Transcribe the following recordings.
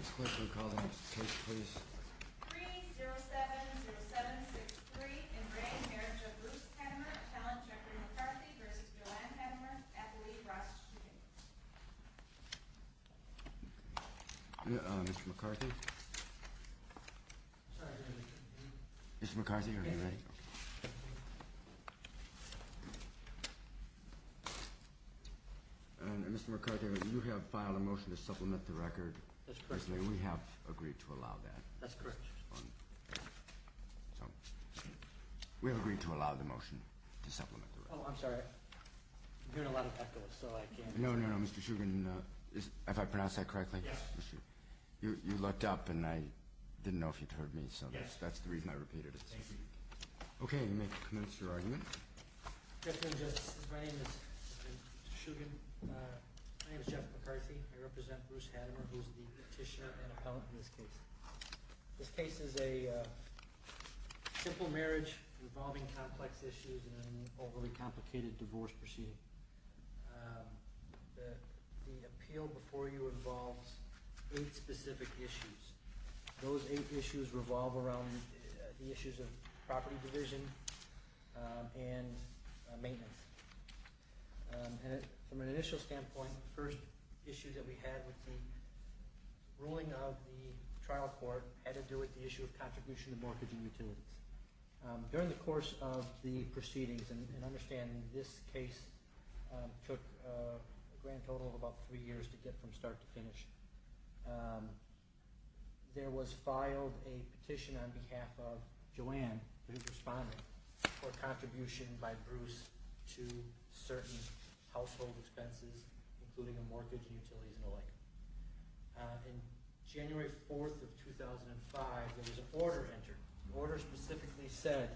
Mr. Clerk, will you call the next case, please? 3-0707-63 In re Marriage of Bruce Hattemer Challenge Dr. McCarthy vs. Joanne Hattemer Athlete, Ross, Jr. Mr. McCarthy? Sorry, I didn't hear you. Mr. McCarthy, are you ready? Mr. McCarthy, you have filed a motion to supplement the record. That's correct. We have agreed to allow that. That's correct. We have agreed to allow the motion to supplement the record. Oh, I'm sorry. I'm hearing a lot of heckles, so I can't... No, no, no. Mr. Shugan, if I pronounced that correctly? Yes. You looked up, and I didn't know if you'd heard me, so that's the reason I repeated it. Thank you. Okay, you may commence your argument. Mr. Shugan, my name is Jeff McCarthy. I represent Bruce Hattemer, who is the petitioner and appellant in this case. This case is a simple marriage involving complex issues in an overly complicated divorce proceeding. The appeal before you involves eight specific issues. Those eight issues revolve around the issues of property division and maintenance. From an initial standpoint, the first issue that we had with the ruling of the trial court had to do with the issue of contribution to mortgage and utilities. During the course of the proceedings, and understand this case took a grand total of about three years to get from start to finish, there was filed a petition on behalf of Joanne, who's responding, for contribution by Bruce to certain household expenses, including a mortgage and utilities and the like. On January 4th of 2005, there was an order entered. The order specifically said,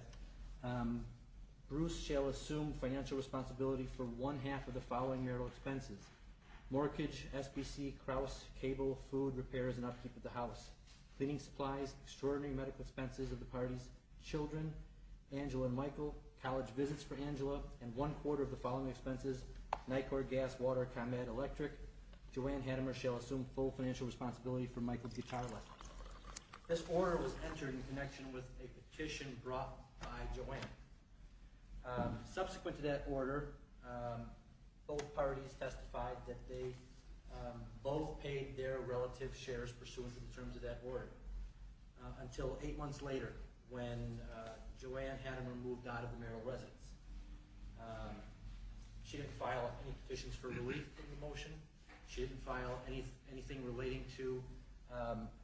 Bruce shall assume financial responsibility for one half of the following marital expenses. Mortgage, SBC, Krause, cable, food, repairs, and upkeep of the house. Cleaning supplies, extraordinary medical expenses of the parties' children, Angela and Michael, college visits for Angela, and one quarter of the following expenses, NICOR, gas, water, ComEd, electric. Joanne Hattemer shall assume full financial responsibility for Michael's guitar lessons. This order was entered in connection with a petition brought by Joanne. Subsequent to that order, both parties testified that they both paid their relative shares pursuant to the terms of that order. Until eight months later, when Joanne Hattemer moved out of the marital residence. She didn't file any petitions for relief from the motion. She didn't file anything relating to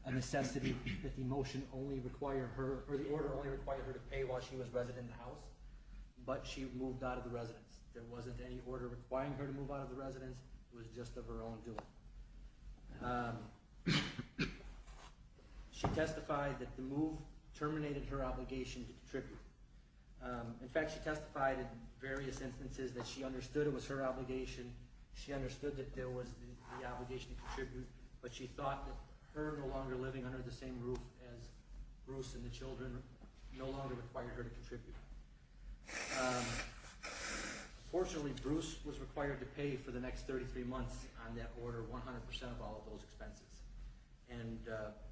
a necessity that the motion only required her, or the order only required her to pay while she was resident in the house, but she moved out of the residence. There wasn't any order requiring her to move out of the residence. It was just of her own doing. She testified that the move terminated her obligation to contribute. In fact, she testified in various instances that she understood it was her obligation. She understood that there was the obligation to contribute, but she thought that her no longer living under the same roof as Bruce and the children no longer required her to contribute. Fortunately, Bruce was required to pay for the next 33 months on that order 100% of all of those expenses.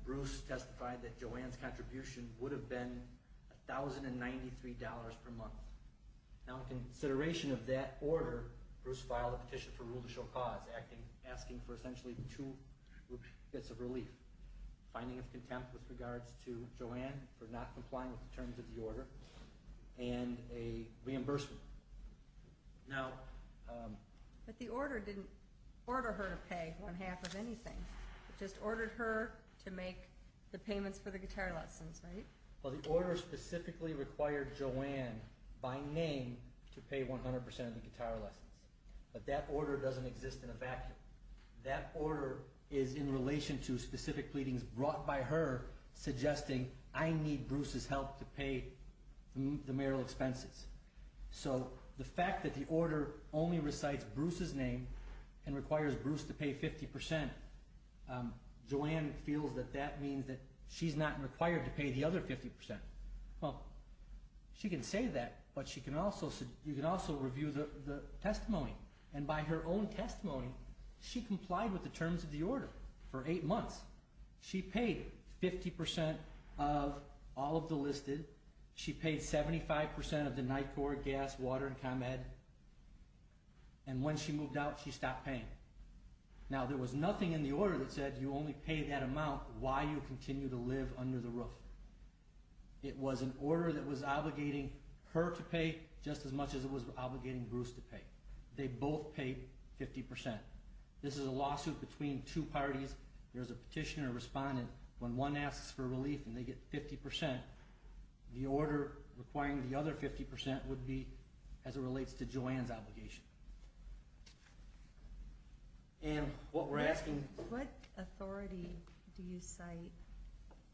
Bruce testified that Joanne's contribution would have been $1,093 per month. Now in consideration of that order, Bruce filed a petition for rule to show cause, asking for essentially two bits of relief. Finding of contempt with regards to Joanne for not complying with the terms of the order, and a reimbursement. But the order didn't order her to pay one half of anything. It just ordered her to make the payments for the guitar lessons, right? Well, the order specifically required Joanne, by name, to pay 100% of the guitar lessons. But that order doesn't exist in a vacuum. That order is in relation to specific pleadings brought by her, suggesting, I need Bruce's help to pay the mayoral expenses. So the fact that the order only recites Bruce's name and requires Bruce to pay 50%, Joanne feels that that means that she's not required to pay the other 50%. Well, she can say that, but you can also review the testimony. And by her own testimony, she complied with the terms of the order for eight months. She paid 50% of all of the listed. She paid 75% of the NICOR, gas, water, and ComEd. And when she moved out, she stopped paying. Now, there was nothing in the order that said you only pay that amount while you continue to live under the roof. It was an order that was obligating her to pay just as much as it was obligating Bruce to pay. They both paid 50%. This is a lawsuit between two parties. There's a petitioner and respondent. When one asks for relief and they get 50%, the order requiring the other 50% would be as it relates to Joanne's obligation. And what we're asking... What authority do you cite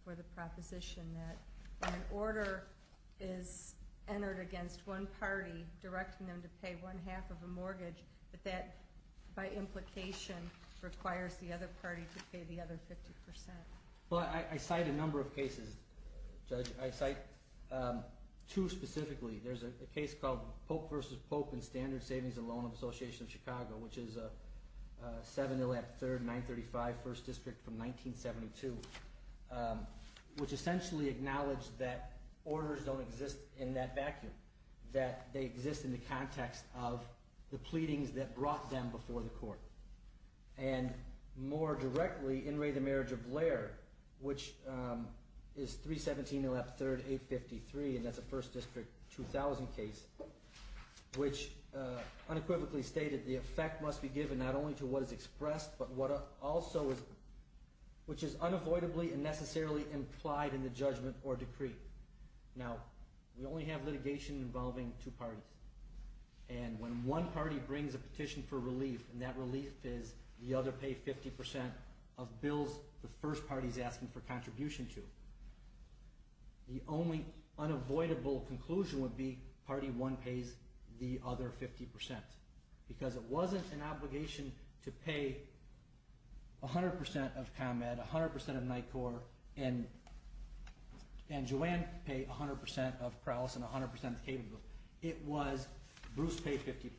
for the proposition that an order is entered against one party directing them to pay one half of a mortgage, but that by implication requires the other party to pay the other 50%? Well, I cite a number of cases, Judge. I cite two specifically. There's a case called Pope v. Pope and Standard Savings and Loan Association of Chicago, which is a 7-0-3-935 First District from 1972, which essentially acknowledged that orders don't exist in that vacuum, that they exist in the context of the pleadings that brought them before the court. And more directly, In re the Marriage of Blair, which is 317-0-3-853, and that's a First District 2000 case, which unequivocally stated the effect must be given not only to what is expressed, but what also is unavoidably and necessarily implied in the judgment or decree. Now, we only have litigation involving two parties. And when one party brings a petition for relief, and that relief is the other pay 50% of bills the first party is asking for contribution to, the only unavoidable conclusion would be party one pays the other 50%. Because it wasn't an obligation to pay 100% of ComEd, 100% of NICOR, and Joanne paid 100% of Prowlis and 100% of Cablebook. It was Bruce paid 50%.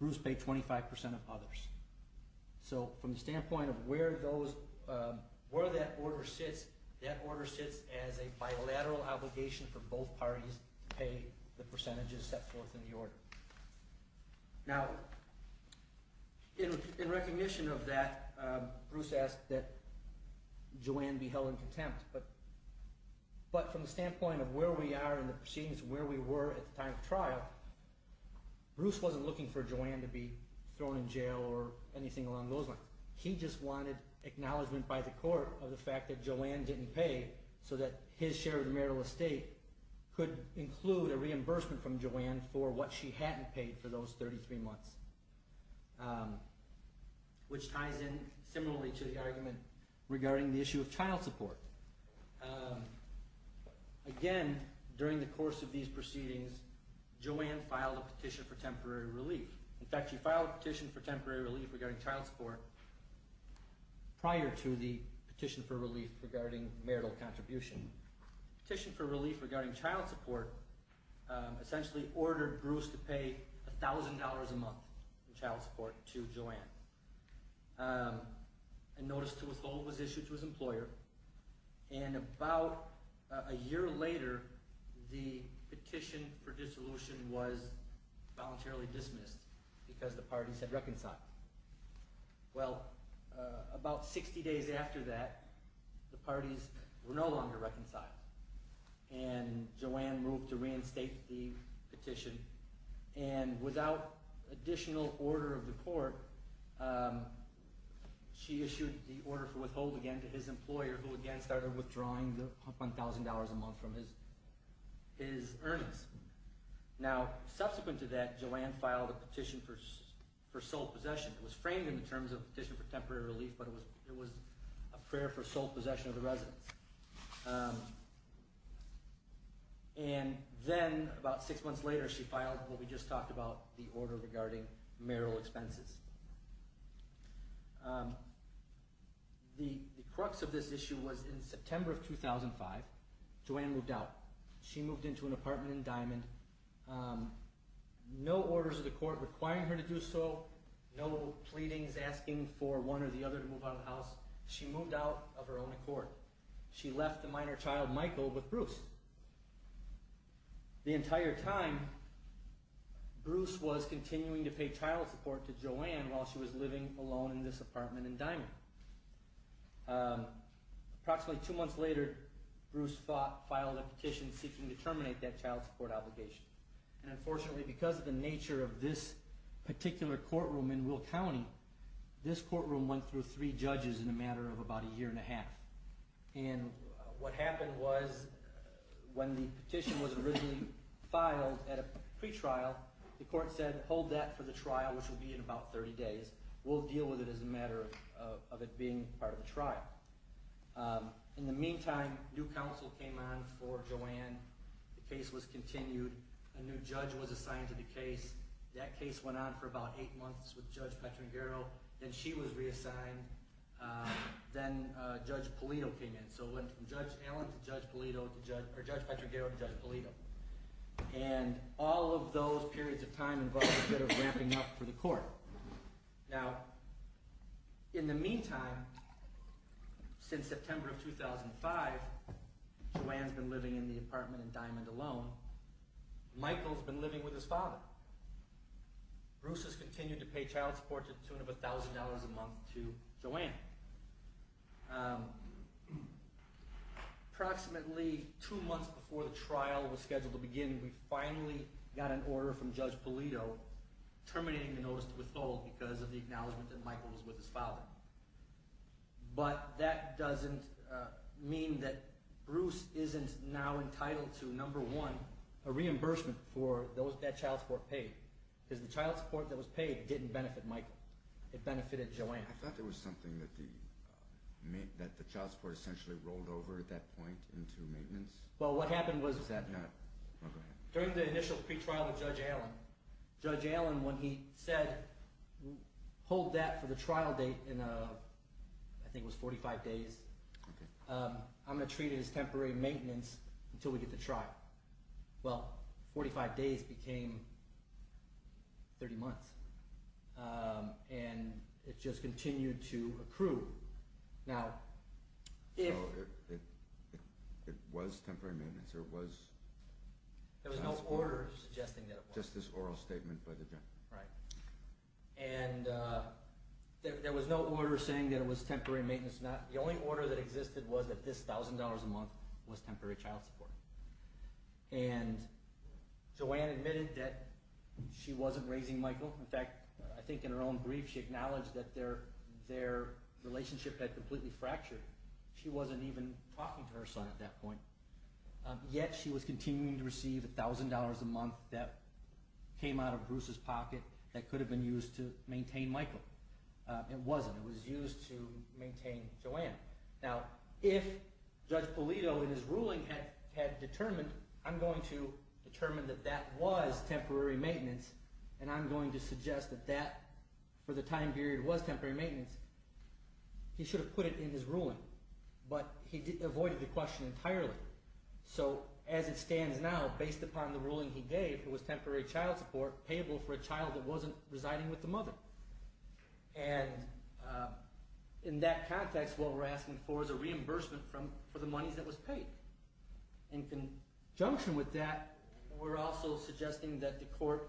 Bruce paid 25% of others. So from the standpoint of where that order sits, that order sits as a bilateral obligation for both parties to pay the percentages set forth in the order. Now, in recognition of that, Bruce asked that Joanne be held in contempt. But from the standpoint of where we are in the proceedings, where we were at the time of trial, Bruce wasn't looking for Joanne to be thrown in jail or anything along those lines. He just wanted acknowledgment by the court of the fact that Joanne didn't pay so that his share of the marital estate could include a reimbursement from Joanne for what she hadn't paid for those 33 months, which ties in similarly to the argument regarding the issue of child support. Again, during the course of these proceedings, Joanne filed a petition for temporary relief. In fact, she filed a petition for temporary relief regarding child support prior to the petition for relief regarding marital contribution. The petition for relief regarding child support essentially ordered Bruce to pay $1,000 a month in child support to Joanne. A notice to withhold was issued to his employer, and about a year later, the petition for dissolution was voluntarily dismissed because the parties had reconciled. Well, about 60 days after that, the parties were no longer reconciled, and without additional order of the court, she issued the order for withholding again to his employer, who again started withdrawing $1,000 a month from his earnings. Now, subsequent to that, Joanne filed a petition for sole possession. It was framed in the terms of a petition for temporary relief, but it was a prayer for sole possession of the residence. And then about six months later, she filed what we just talked about, the order regarding marital expenses. The crux of this issue was in September of 2005, Joanne moved out. She moved into an apartment in Diamond. No orders of the court requiring her to do so, no pleadings asking for one or the other to move out of the house. She moved out of her own accord. But she left the minor child, Michael, with Bruce. The entire time, Bruce was continuing to pay child support to Joanne while she was living alone in this apartment in Diamond. Approximately two months later, Bruce filed a petition seeking to terminate that child support obligation. And unfortunately, because of the nature of this particular courtroom in Will County, this courtroom went through three judges in a matter of about a year and a half. And what happened was, when the petition was originally filed at a pretrial, the court said, hold that for the trial, which will be in about 30 days. We'll deal with it as a matter of it being part of the trial. In the meantime, new counsel came on for Joanne. The case was continued. A new judge was assigned to the case. That case went on for about eight months with Judge Petrangaro. Then she was reassigned. Then Judge Polito came in. So it went from Judge Petrangaro to Judge Polito. And all of those periods of time involved a bit of wrapping up for the court. Now, in the meantime, since September of 2005, Joanne's been living in the apartment in Diamond alone. Michael's been living with his father. Bruce has continued to pay child support to the tune of $1,000 a month to Joanne. Approximately two months before the trial was scheduled to begin, we finally got an order from Judge Polito terminating the notice to withhold because of the acknowledgment that Michael was with his father. But that doesn't mean that Bruce isn't now entitled to, number one, a reimbursement for that child support paid. Because the child support that was paid didn't benefit Michael. It benefited Joanne. I thought there was something that the child support essentially rolled over at that point into maintenance. Well, what happened was that during the initial pretrial with Judge Allen, when he said hold that for the trial date in, I think it was 45 days, I'm going to treat it as temporary maintenance until we get the trial. Well, 45 days became 30 months, and it just continued to accrue. Now, if— So it was temporary maintenance or it was child support? There was no order suggesting that it was. Just this oral statement by the judge. Right. And there was no order saying that it was temporary maintenance. The only order that existed was that this $1,000 a month was temporary child support. And Joanne admitted that she wasn't raising Michael. In fact, I think in her own brief she acknowledged that their relationship had completely fractured. She wasn't even talking to her son at that point. Yet she was continuing to receive $1,000 a month that came out of Bruce's pocket that could have been used to maintain Michael. It wasn't. It was used to maintain Joanne. Now, if Judge Pulido in his ruling had determined, I'm going to determine that that was temporary maintenance, and I'm going to suggest that that for the time period was temporary maintenance, he should have put it in his ruling. But he avoided the question entirely. So as it stands now, based upon the ruling he gave, it was temporary child support payable for a child that wasn't residing with the mother. And in that context, what we're asking for is a reimbursement for the monies that was paid. In conjunction with that, we're also suggesting that the court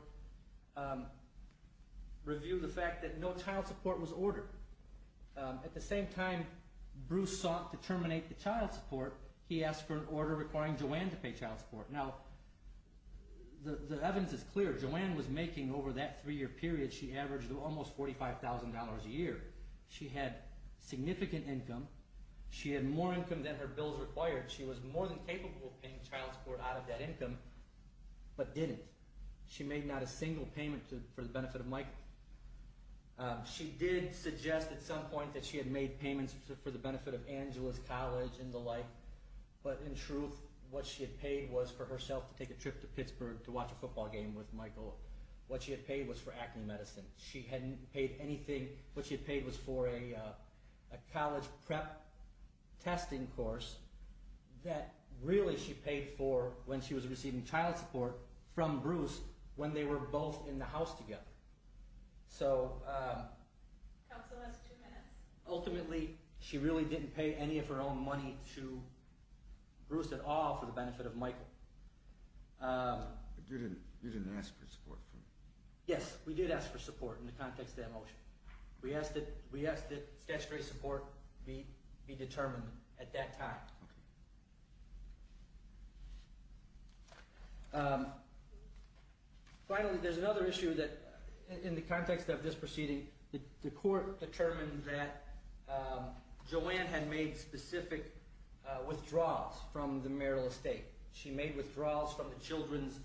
review the fact that no child support was ordered. At the same time Bruce sought to terminate the child support, he asked for an order requiring Joanne to pay child support. Now, the evidence is clear. Joanne was making, over that three-year period, she averaged almost $45,000 a year. She had significant income. She had more income than her bills required. She was more than capable of paying child support out of that income, but didn't. She made not a single payment for the benefit of Michael. She did suggest at some point that she had made payments for the benefit of Angeles College and the like. But in truth, what she had paid was for herself to take a trip to Pittsburgh to watch a football game with Michael. What she had paid was for acne medicine. She hadn't paid anything. What she had paid was for a college prep testing course that really she paid for when she was receiving child support from Bruce when they were both in the house together. So, ultimately she really didn't pay any of her own money to Bruce at all for the benefit of Michael. You didn't ask for support? Yes, we did ask for support in the context of that motion. We asked that statutory support be determined at that time. Okay. Finally, there's another issue that in the context of this proceeding, the court determined that Joanne had made specific withdrawals from the Merrill Estate. She made withdrawals from the children's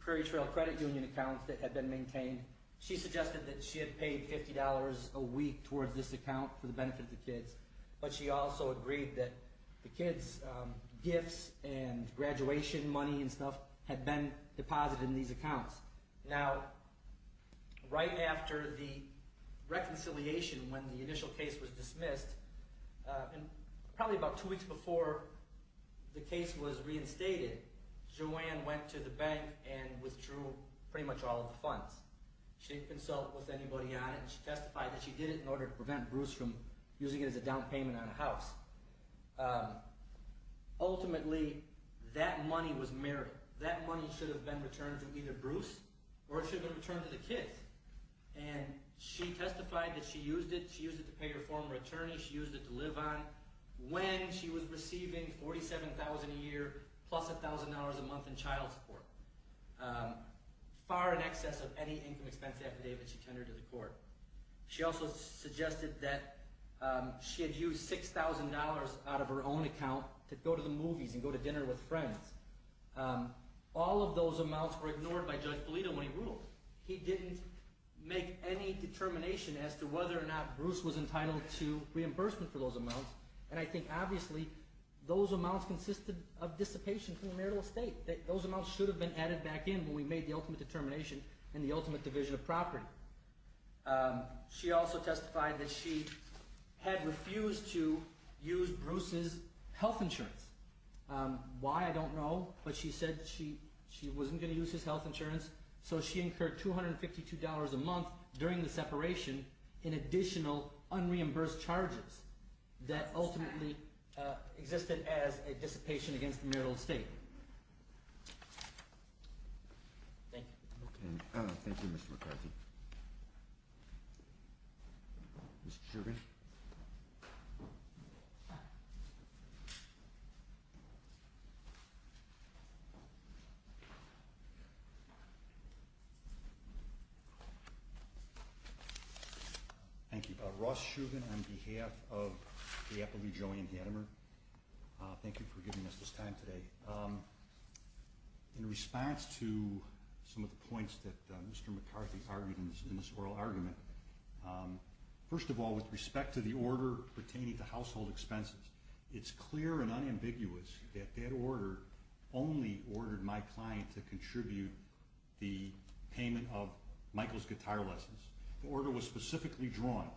Prairie Trail Credit Union accounts that had been maintained. She suggested that she had paid $50 a week towards this account for the benefit of the kids. But she also agreed that the kids' gifts and graduation money and stuff had been deposited in these accounts. Now, right after the reconciliation when the initial case was dismissed, probably about two weeks before the case was reinstated, Joanne went to the bank and withdrew pretty much all of the funds. She didn't consult with anybody on it. She testified that she did it in order to prevent Bruce from using it as a down payment on a house. Ultimately, that money was Merrill. That money should have been returned to either Bruce or it should have been returned to the kids. And she testified that she used it. She used it to pay her former attorney. She used it to live on when she was receiving $47,000 a year plus $1,000 a month in child support. Far in excess of any income expense affidavit she tendered to the court. She also suggested that she had used $6,000 out of her own account to go to the movies and go to dinner with friends. All of those amounts were ignored by Judge Pulido when he ruled. He didn't make any determination as to whether or not Bruce was entitled to reimbursement for those amounts. And I think, obviously, those amounts consisted of dissipation from the Merrill estate. Those amounts should have been added back in when we made the ultimate determination and the ultimate division of property. She also testified that she had refused to use Bruce's health insurance. Why, I don't know, but she said she wasn't going to use his health insurance. So she incurred $252 a month during the separation in additional unreimbursed charges that ultimately existed as a dissipation against the Merrill estate. Thank you. Thank you, Mr. McCarthy. Mr. Shugan. Thank you. My name is Ross Shugan on behalf of the Appleby, Joey, and Hattimer. Thank you for giving us this time today. In response to some of the points that Mr. McCarthy argued in this oral argument, first of all, with respect to the order pertaining to household expenses, it's clear and unambiguous that that order only ordered my client to contribute the payment of Michael's guitar lessons. The order was specifically drawn,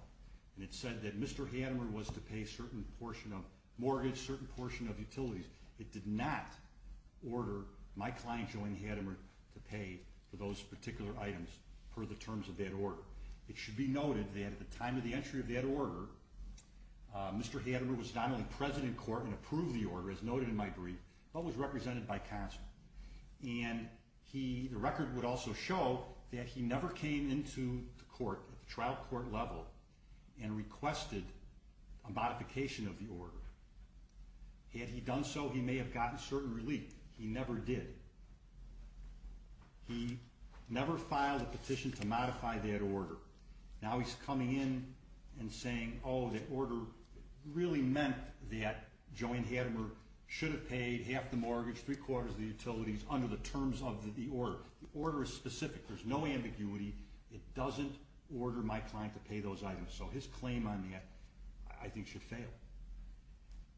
and it said that Mr. Hattimer was to pay a certain portion of mortgage, a certain portion of utilities. It did not order my client, Joey Hattimer, to pay for those particular items per the terms of that order. It should be noted that at the time of the entry of that order, Mr. Hattimer was not only present in court and approved the order, as noted in my brief, but was represented by counsel. And the record would also show that he never came into the court at the trial court level and requested a modification of the order. Had he done so, he may have gotten certain relief. He never did. Now he's coming in and saying, oh, the order really meant that Joey Hattimer should have paid half the mortgage, three-quarters of the utilities, under the terms of the order. The order is specific. There's no ambiguity. It doesn't order my client to pay those items. So his claim on that, I think, should fail.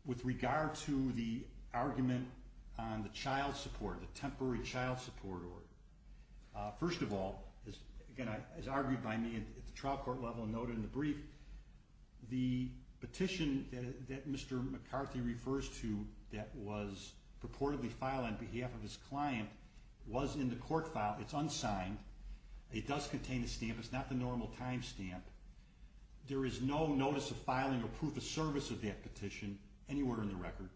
With regard to the argument on the child support, the temporary child support order, first of all, as argued by me at the trial court level and noted in the brief, the petition that Mr. McCarthy refers to that was purportedly filed on behalf of his client was in the court file. It's unsigned. It does contain a stamp. It's not the normal time stamp. There is no notice of filing or proof of service of that petition anywhere in the record.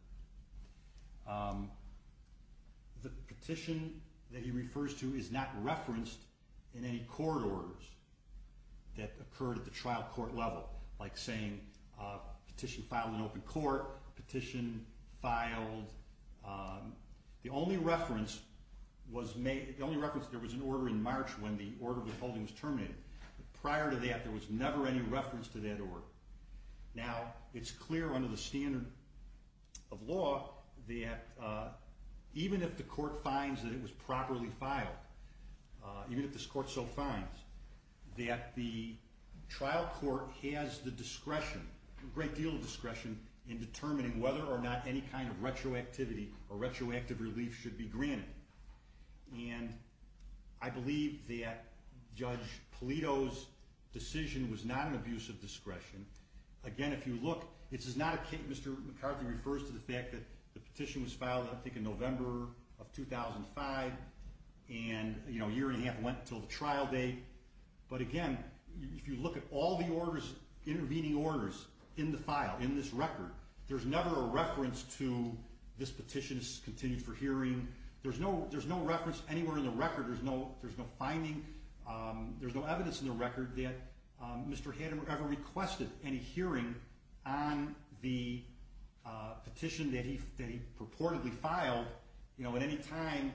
The petition that he refers to is not referenced in any court orders that occurred at the trial court level, like saying petition filed in open court, petition filed. The only reference was made, the only reference, there was an order in March when the order of withholding was terminated. Prior to that, there was never any reference to that order. Now, it's clear under the standard of law that even if the court finds that it was properly filed, even if this court so finds, that the trial court has the discretion, a great deal of discretion, in determining whether or not any kind of retroactivity or retroactive relief should be granted. And I believe that Judge Polito's decision was not an abuse of discretion. Again, if you look, this is not a case, Mr. McCarthy refers to the fact that the petition was filed, I think, in November of 2005, and a year and a half went until the trial date. But again, if you look at all the intervening orders in the file, in this record, there's never a reference to this petition is continued for hearing. There's no reference anywhere in the record, there's no finding, there's no evidence in the record that Mr. Hattemer ever requested any hearing on the petition that he purportedly filed at any time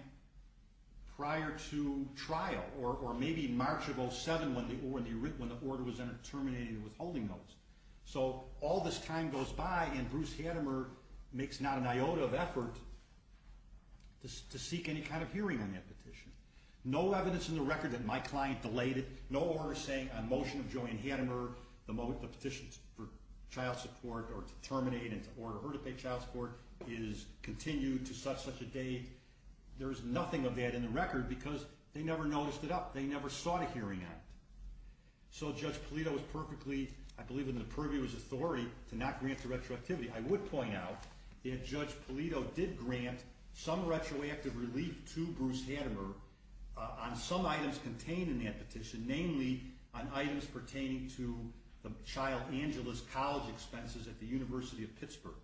prior to trial. Or maybe March of 07 when the order was terminated in withholding those. So all this time goes by and Bruce Hattemer makes not an iota of effort to seek any kind of hearing on that petition. No evidence in the record that my client delayed it, no order saying on motion of Joanne Hattemer, the petition for child support or to terminate and to order her to pay child support is continued to such and such a date. There's nothing of that in the record because they never noticed it up, they never sought a hearing on it. So Judge Polito was perfectly, I believe in the purview as authority to not grant the retroactivity. I would point out that Judge Polito did grant some retroactive relief to Bruce Hattemer on some items contained in that petition, namely on items pertaining to the child Angeles college expenses at the University of Pittsburgh.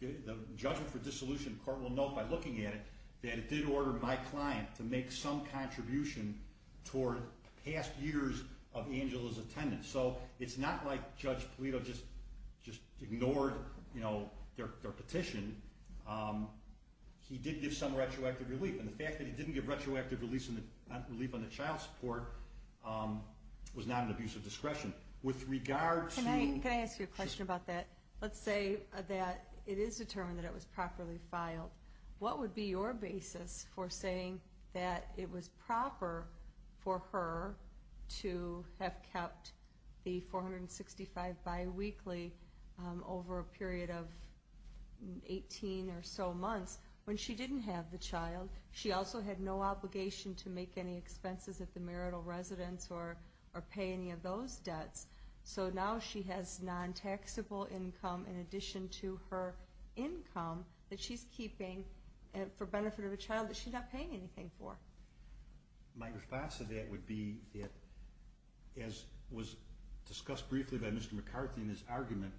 The judgment for dissolution court will note by looking at it that it did order my client to make some contribution toward past years of Angela's attendance. So it's not like Judge Polito just ignored their petition. He did give some retroactive relief and the fact that he didn't give retroactive relief on the child support was not an abuse of discretion. Can I ask you a question about that? Let's say that it is determined that it was properly filed. What would be your basis for saying that it was proper for her to have kept the 465 biweekly over a period of 18 or so months when she didn't have the child? She also had no obligation to make any expenses at the marital residence or pay any of those debts. So now she has non-taxable income in addition to her income that she's keeping for benefit of a child that she's not paying anything for. My response to that would be that, as was discussed briefly by Mr. McCarthy in his argument,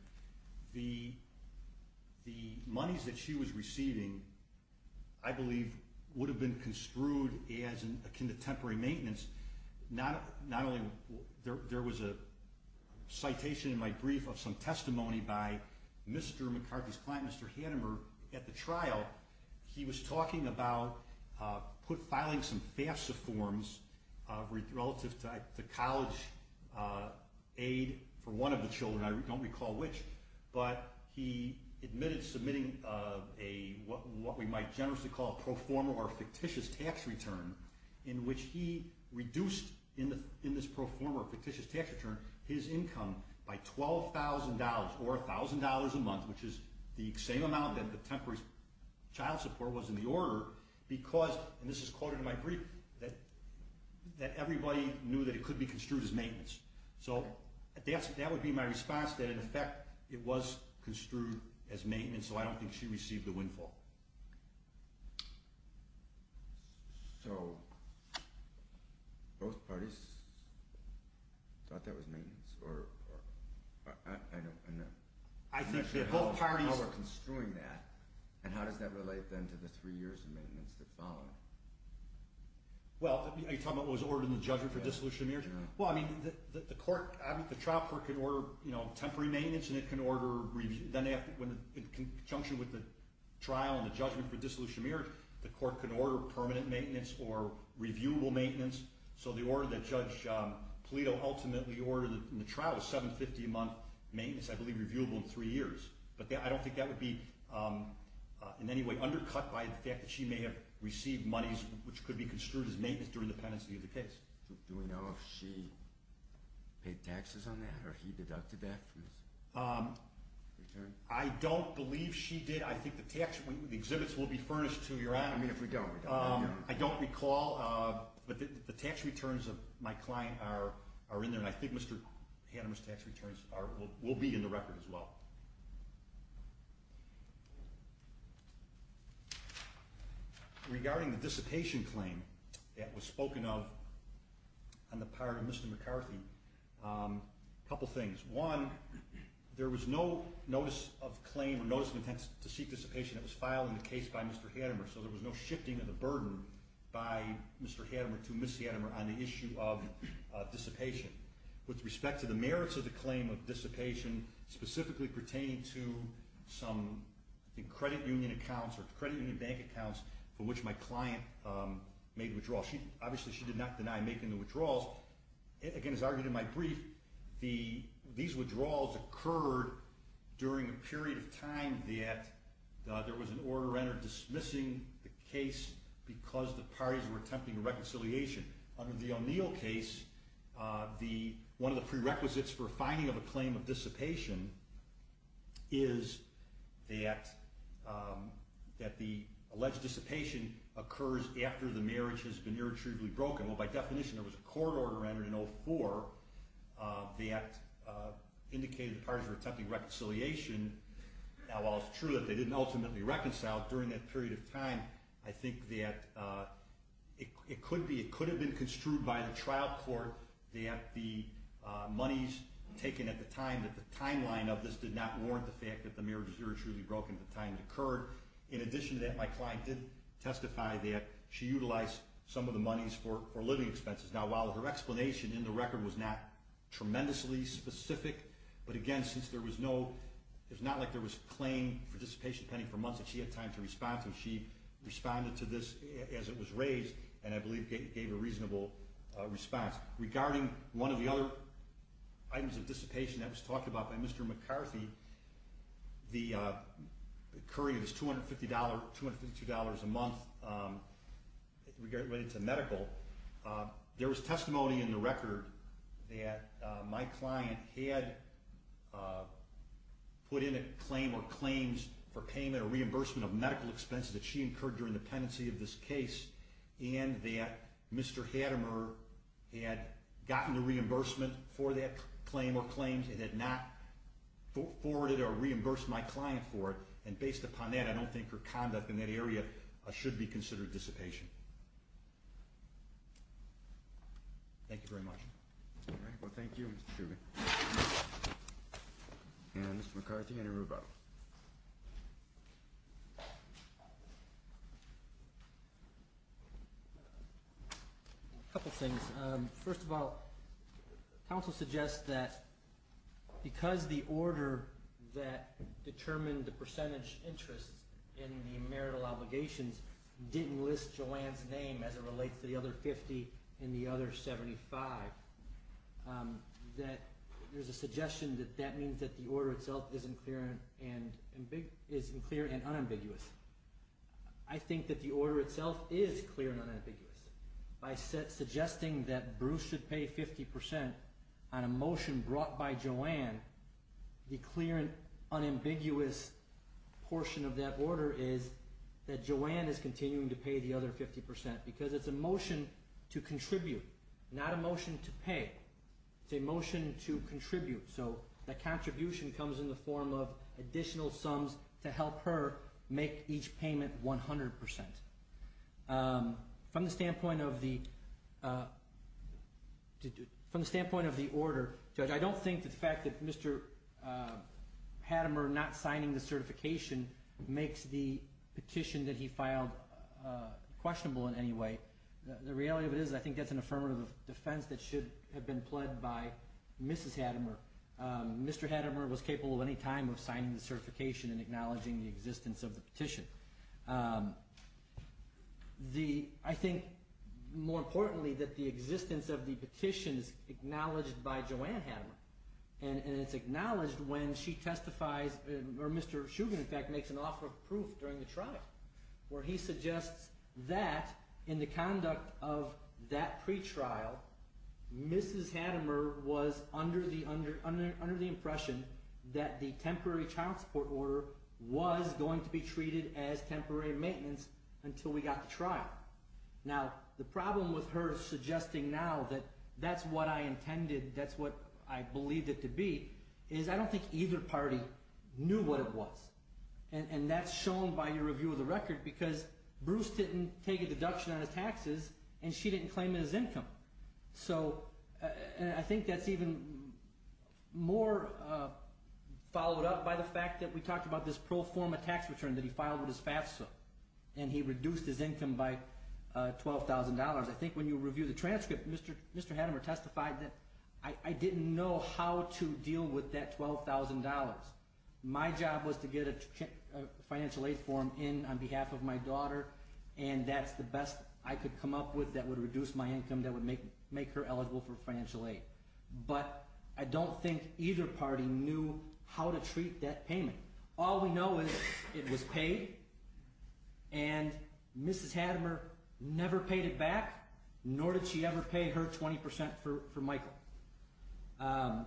the monies that she was receiving, I believe, would have been construed as akin to temporary maintenance. There was a citation in my brief of some testimony by Mr. McCarthy's client, Mr. Hanemer, at the trial. He was talking about filing some FAFSA forms relative to college aid for one of the children. I don't recall which, but he admitted submitting what we might generously call a pro forma or fictitious tax return in which he reduced in this pro forma or fictitious tax return his income by $12,000 or $1,000 a month, which is the same amount that the temporary child support was in the order because, and this is quoted in my brief, that everybody knew that it could be construed as maintenance. So that would be my response, that in effect it was construed as maintenance, so I don't think she received the windfall. So both parties thought that was maintenance, or I'm not sure how we're construing that, and how does that relate then to the three years of maintenance that followed? Well, are you talking about what was ordered in the judgment for dissolution of marriage? Well, I mean, the trial court could order temporary maintenance, and then in conjunction with the trial and the judgment for dissolution of marriage, the court could order permanent maintenance or reviewable maintenance. So the order that Judge Polito ultimately ordered in the trial was $750 a month maintenance, I believe reviewable in three years. But I don't think that would be in any way undercut by the fact that she may have received monies which could be construed as maintenance during the pendency of the case. Do we know if she paid taxes on that, or he deducted that from his return? I don't believe she did. I think the tax, the exhibits will be furnished to your honor. I mean, if we don't, we don't know. I don't recall, but the tax returns of my client are in there, and I think Mr. Hanneman's tax returns will be in the record as well. Regarding the dissipation claim that was spoken of on the part of Mr. McCarthy, a couple things. One, there was no notice of claim or notice of intent to seek dissipation that was filed in the case by Mr. Hanneman, so there was no shifting of the burden by Mr. Hanneman to Ms. Hanneman on the issue of dissipation. With respect to the merits of the claim of dissipation, specifically pertaining to some credit union accounts or credit union bank accounts from which my client made withdrawals, obviously she did not deny making the withdrawals. Again, as argued in my brief, these withdrawals occurred during a period of time that there was an order entered dismissing the case because the parties were attempting a reconciliation. Under the O'Neill case, one of the prerequisites for finding of a claim of dissipation is that the alleged dissipation occurs after the marriage has been irretrievably broken. By definition, there was a court order entered in 2004 that indicated the parties were attempting a reconciliation. While it's true that they didn't ultimately reconcile, during that period of time, I think that it could have been construed by the trial court that the monies taken at the time, that the timeline of this did not warrant the fact that the marriage was irretrievably broken at the time it occurred. In addition to that, my client did testify that she utilized some of the monies for living expenses. Now, while her explanation in the record was not tremendously specific, but again, since there was no, it's not like there was claim for dissipation pending for months and she had time to respond to it. She responded to this as it was raised and I believe gave a reasonable response. Regarding one of the other items of dissipation that was talked about by Mr. McCarthy, the occurring of this $250, $252 a month related to medical, there was testimony in the record that my client had put in a claim or claims for payment or reimbursement of medical expenses that she incurred during the time that Mr. Gadamer had gotten the reimbursement for that claim or claims and had not forwarded or reimbursed my client for it. And based upon that, I don't think her conduct in that area should be considered dissipation. Thank you very much. Well, thank you, Mr. Truman. And Mr. McCarthy, any rebuttal? A couple things. First of all, counsel suggests that because the order that determined the percentage interest in the marital obligations didn't list Joanne's name as it relates to the other $50 and the other $75, that there's a suggestion that that means that the order itself is unclear and unambiguous. I think that the order itself is clear and unambiguous. By suggesting that Bruce should pay 50% on a motion brought by Joanne, the clear and unambiguous portion of that order is that Joanne is continuing to pay the other 50% because it's a motion to contribute, not a motion to pay. It's a motion to contribute. So the contribution comes in the form of additional sums to help her make each payment 100%. From the standpoint of the order, Judge, I don't think that the fact that Mr. Hadamer not signing the certification makes the petition that he filed questionable in any way. The reality of it is I think that's an affirmative defense that should have been pled by Mrs. Hadamer. Mr. Hadamer was capable at any time of signing the certification and acknowledging the existence of the petition. I think, more importantly, that the existence of the petition is acknowledged by Joanne Hadamer. It's acknowledged when she testifies, or Mr. Shugan, in fact, makes an offer of proof during the trial where he suggests that in the conduct of that pretrial, Mrs. Hadamer was under the impression that the temporary child support order was going to be treated as temporary maintenance until we got to trial. Now, the problem with her suggesting now that that's what I intended, that's what I believed it to be, is I don't think either party knew what it was. And that's shown by your review of the record because Bruce didn't take a deduction on his taxes and she didn't claim his income. So I think that's even more followed up by the fact that we talked about this pro forma tax return that he filed with his FAFSA. And he reduced his income by $12,000. I think when you review the transcript, Mr. Hadamer testified that I didn't know how to deal with that $12,000. My job was to get a financial aid form in on behalf of my daughter, and that's the best I could come up with that would reduce my income, that would make her eligible for financial aid. But I don't think either party knew how to treat that payment. All we know is it was paid, and Mrs. Hadamer never paid it back, nor did she ever pay her 20% for Michael.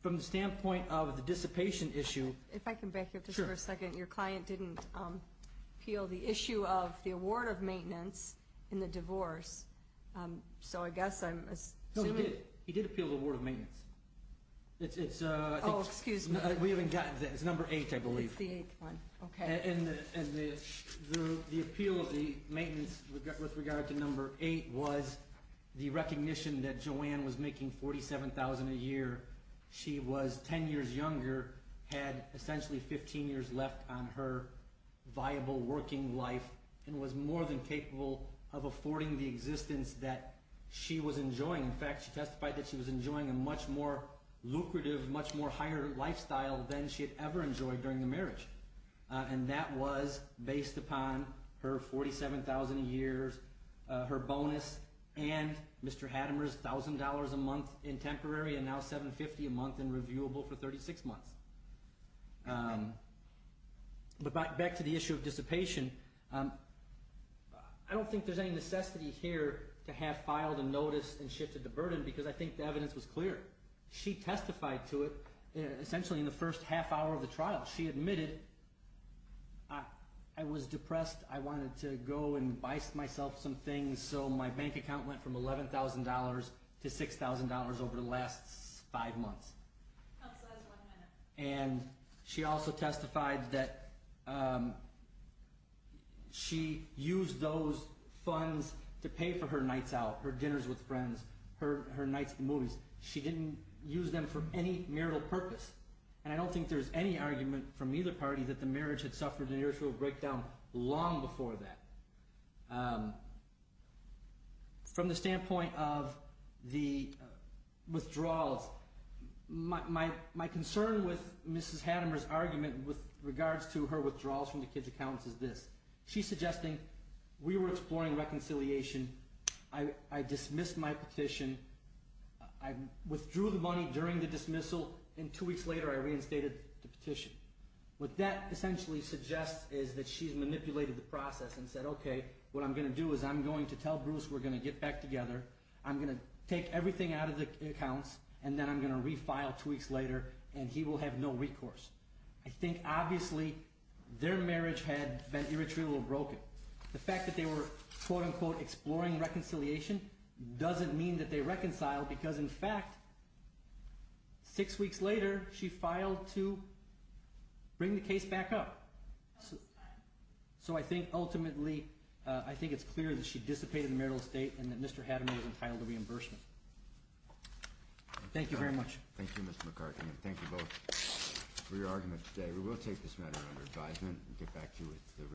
From the standpoint of the dissipation issue... If I can back up just for a second. Sure. Your client didn't appeal the issue of the award of maintenance in the divorce, so I guess I'm assuming... No, he did. He did appeal the award of maintenance. It's... Oh, excuse me. We haven't gotten to that. It's number eight, I believe. It's the eighth one. Okay. And the appeal of the maintenance with regard to number eight was the recognition that Joanne was making $47,000 a year. She was 10 years younger, had essentially 15 years left on her viable working life, and was more than capable of affording the existence that she was enjoying. In fact, she testified that she was enjoying a much more lucrative, much more higher lifestyle than she had ever enjoyed during the marriage. And that was based upon her $47,000 a year, her bonus, and Mr. Hadamer's $1,000 a month in temporary, and now $750 a month in reviewable for 36 months. But back to the issue of dissipation, I don't think there's any necessity here to have filed a notice and shifted the burden because I think the evidence was clear. She testified to it essentially in the first half hour of the trial. She admitted, I was depressed, I wanted to go and buy myself some things, so my bank account went from $11,000 to $6,000 over the last five months. That's less than one minute. And she also testified that she used those funds to pay for her nights out, her dinners with friends, her nights at the movies. She didn't use them for any marital purpose, and I don't think there's any argument from either party that the marriage had suffered an initial breakdown long before that. From the standpoint of the withdrawals, my concern with Mrs. Hadamer's argument with regards to her withdrawals from the kids' accounts is this. She's suggesting we were exploring reconciliation, I dismissed my petition, I withdrew the money during the dismissal, and two weeks later I reinstated the petition. What that essentially suggests is that she's manipulated the process and said, okay, what I'm going to do is I'm going to tell Bruce we're going to get back together, I'm going to take everything out of the accounts, and then I'm going to refile two weeks later, and he will have no recourse. I think obviously their marriage had been irretrievably broken. The fact that they were, quote-unquote, exploring reconciliation doesn't mean that they reconciled, because in fact six weeks later she filed to bring the case back up. So I think ultimately I think it's clear that she dissipated the marital estate and that Mr. Hadamer is entitled to reimbursement. Thank you very much. Thank you, Mr. McCarthy, and thank you both for your argument today. We will take this matter under advisement and get back to you with the results.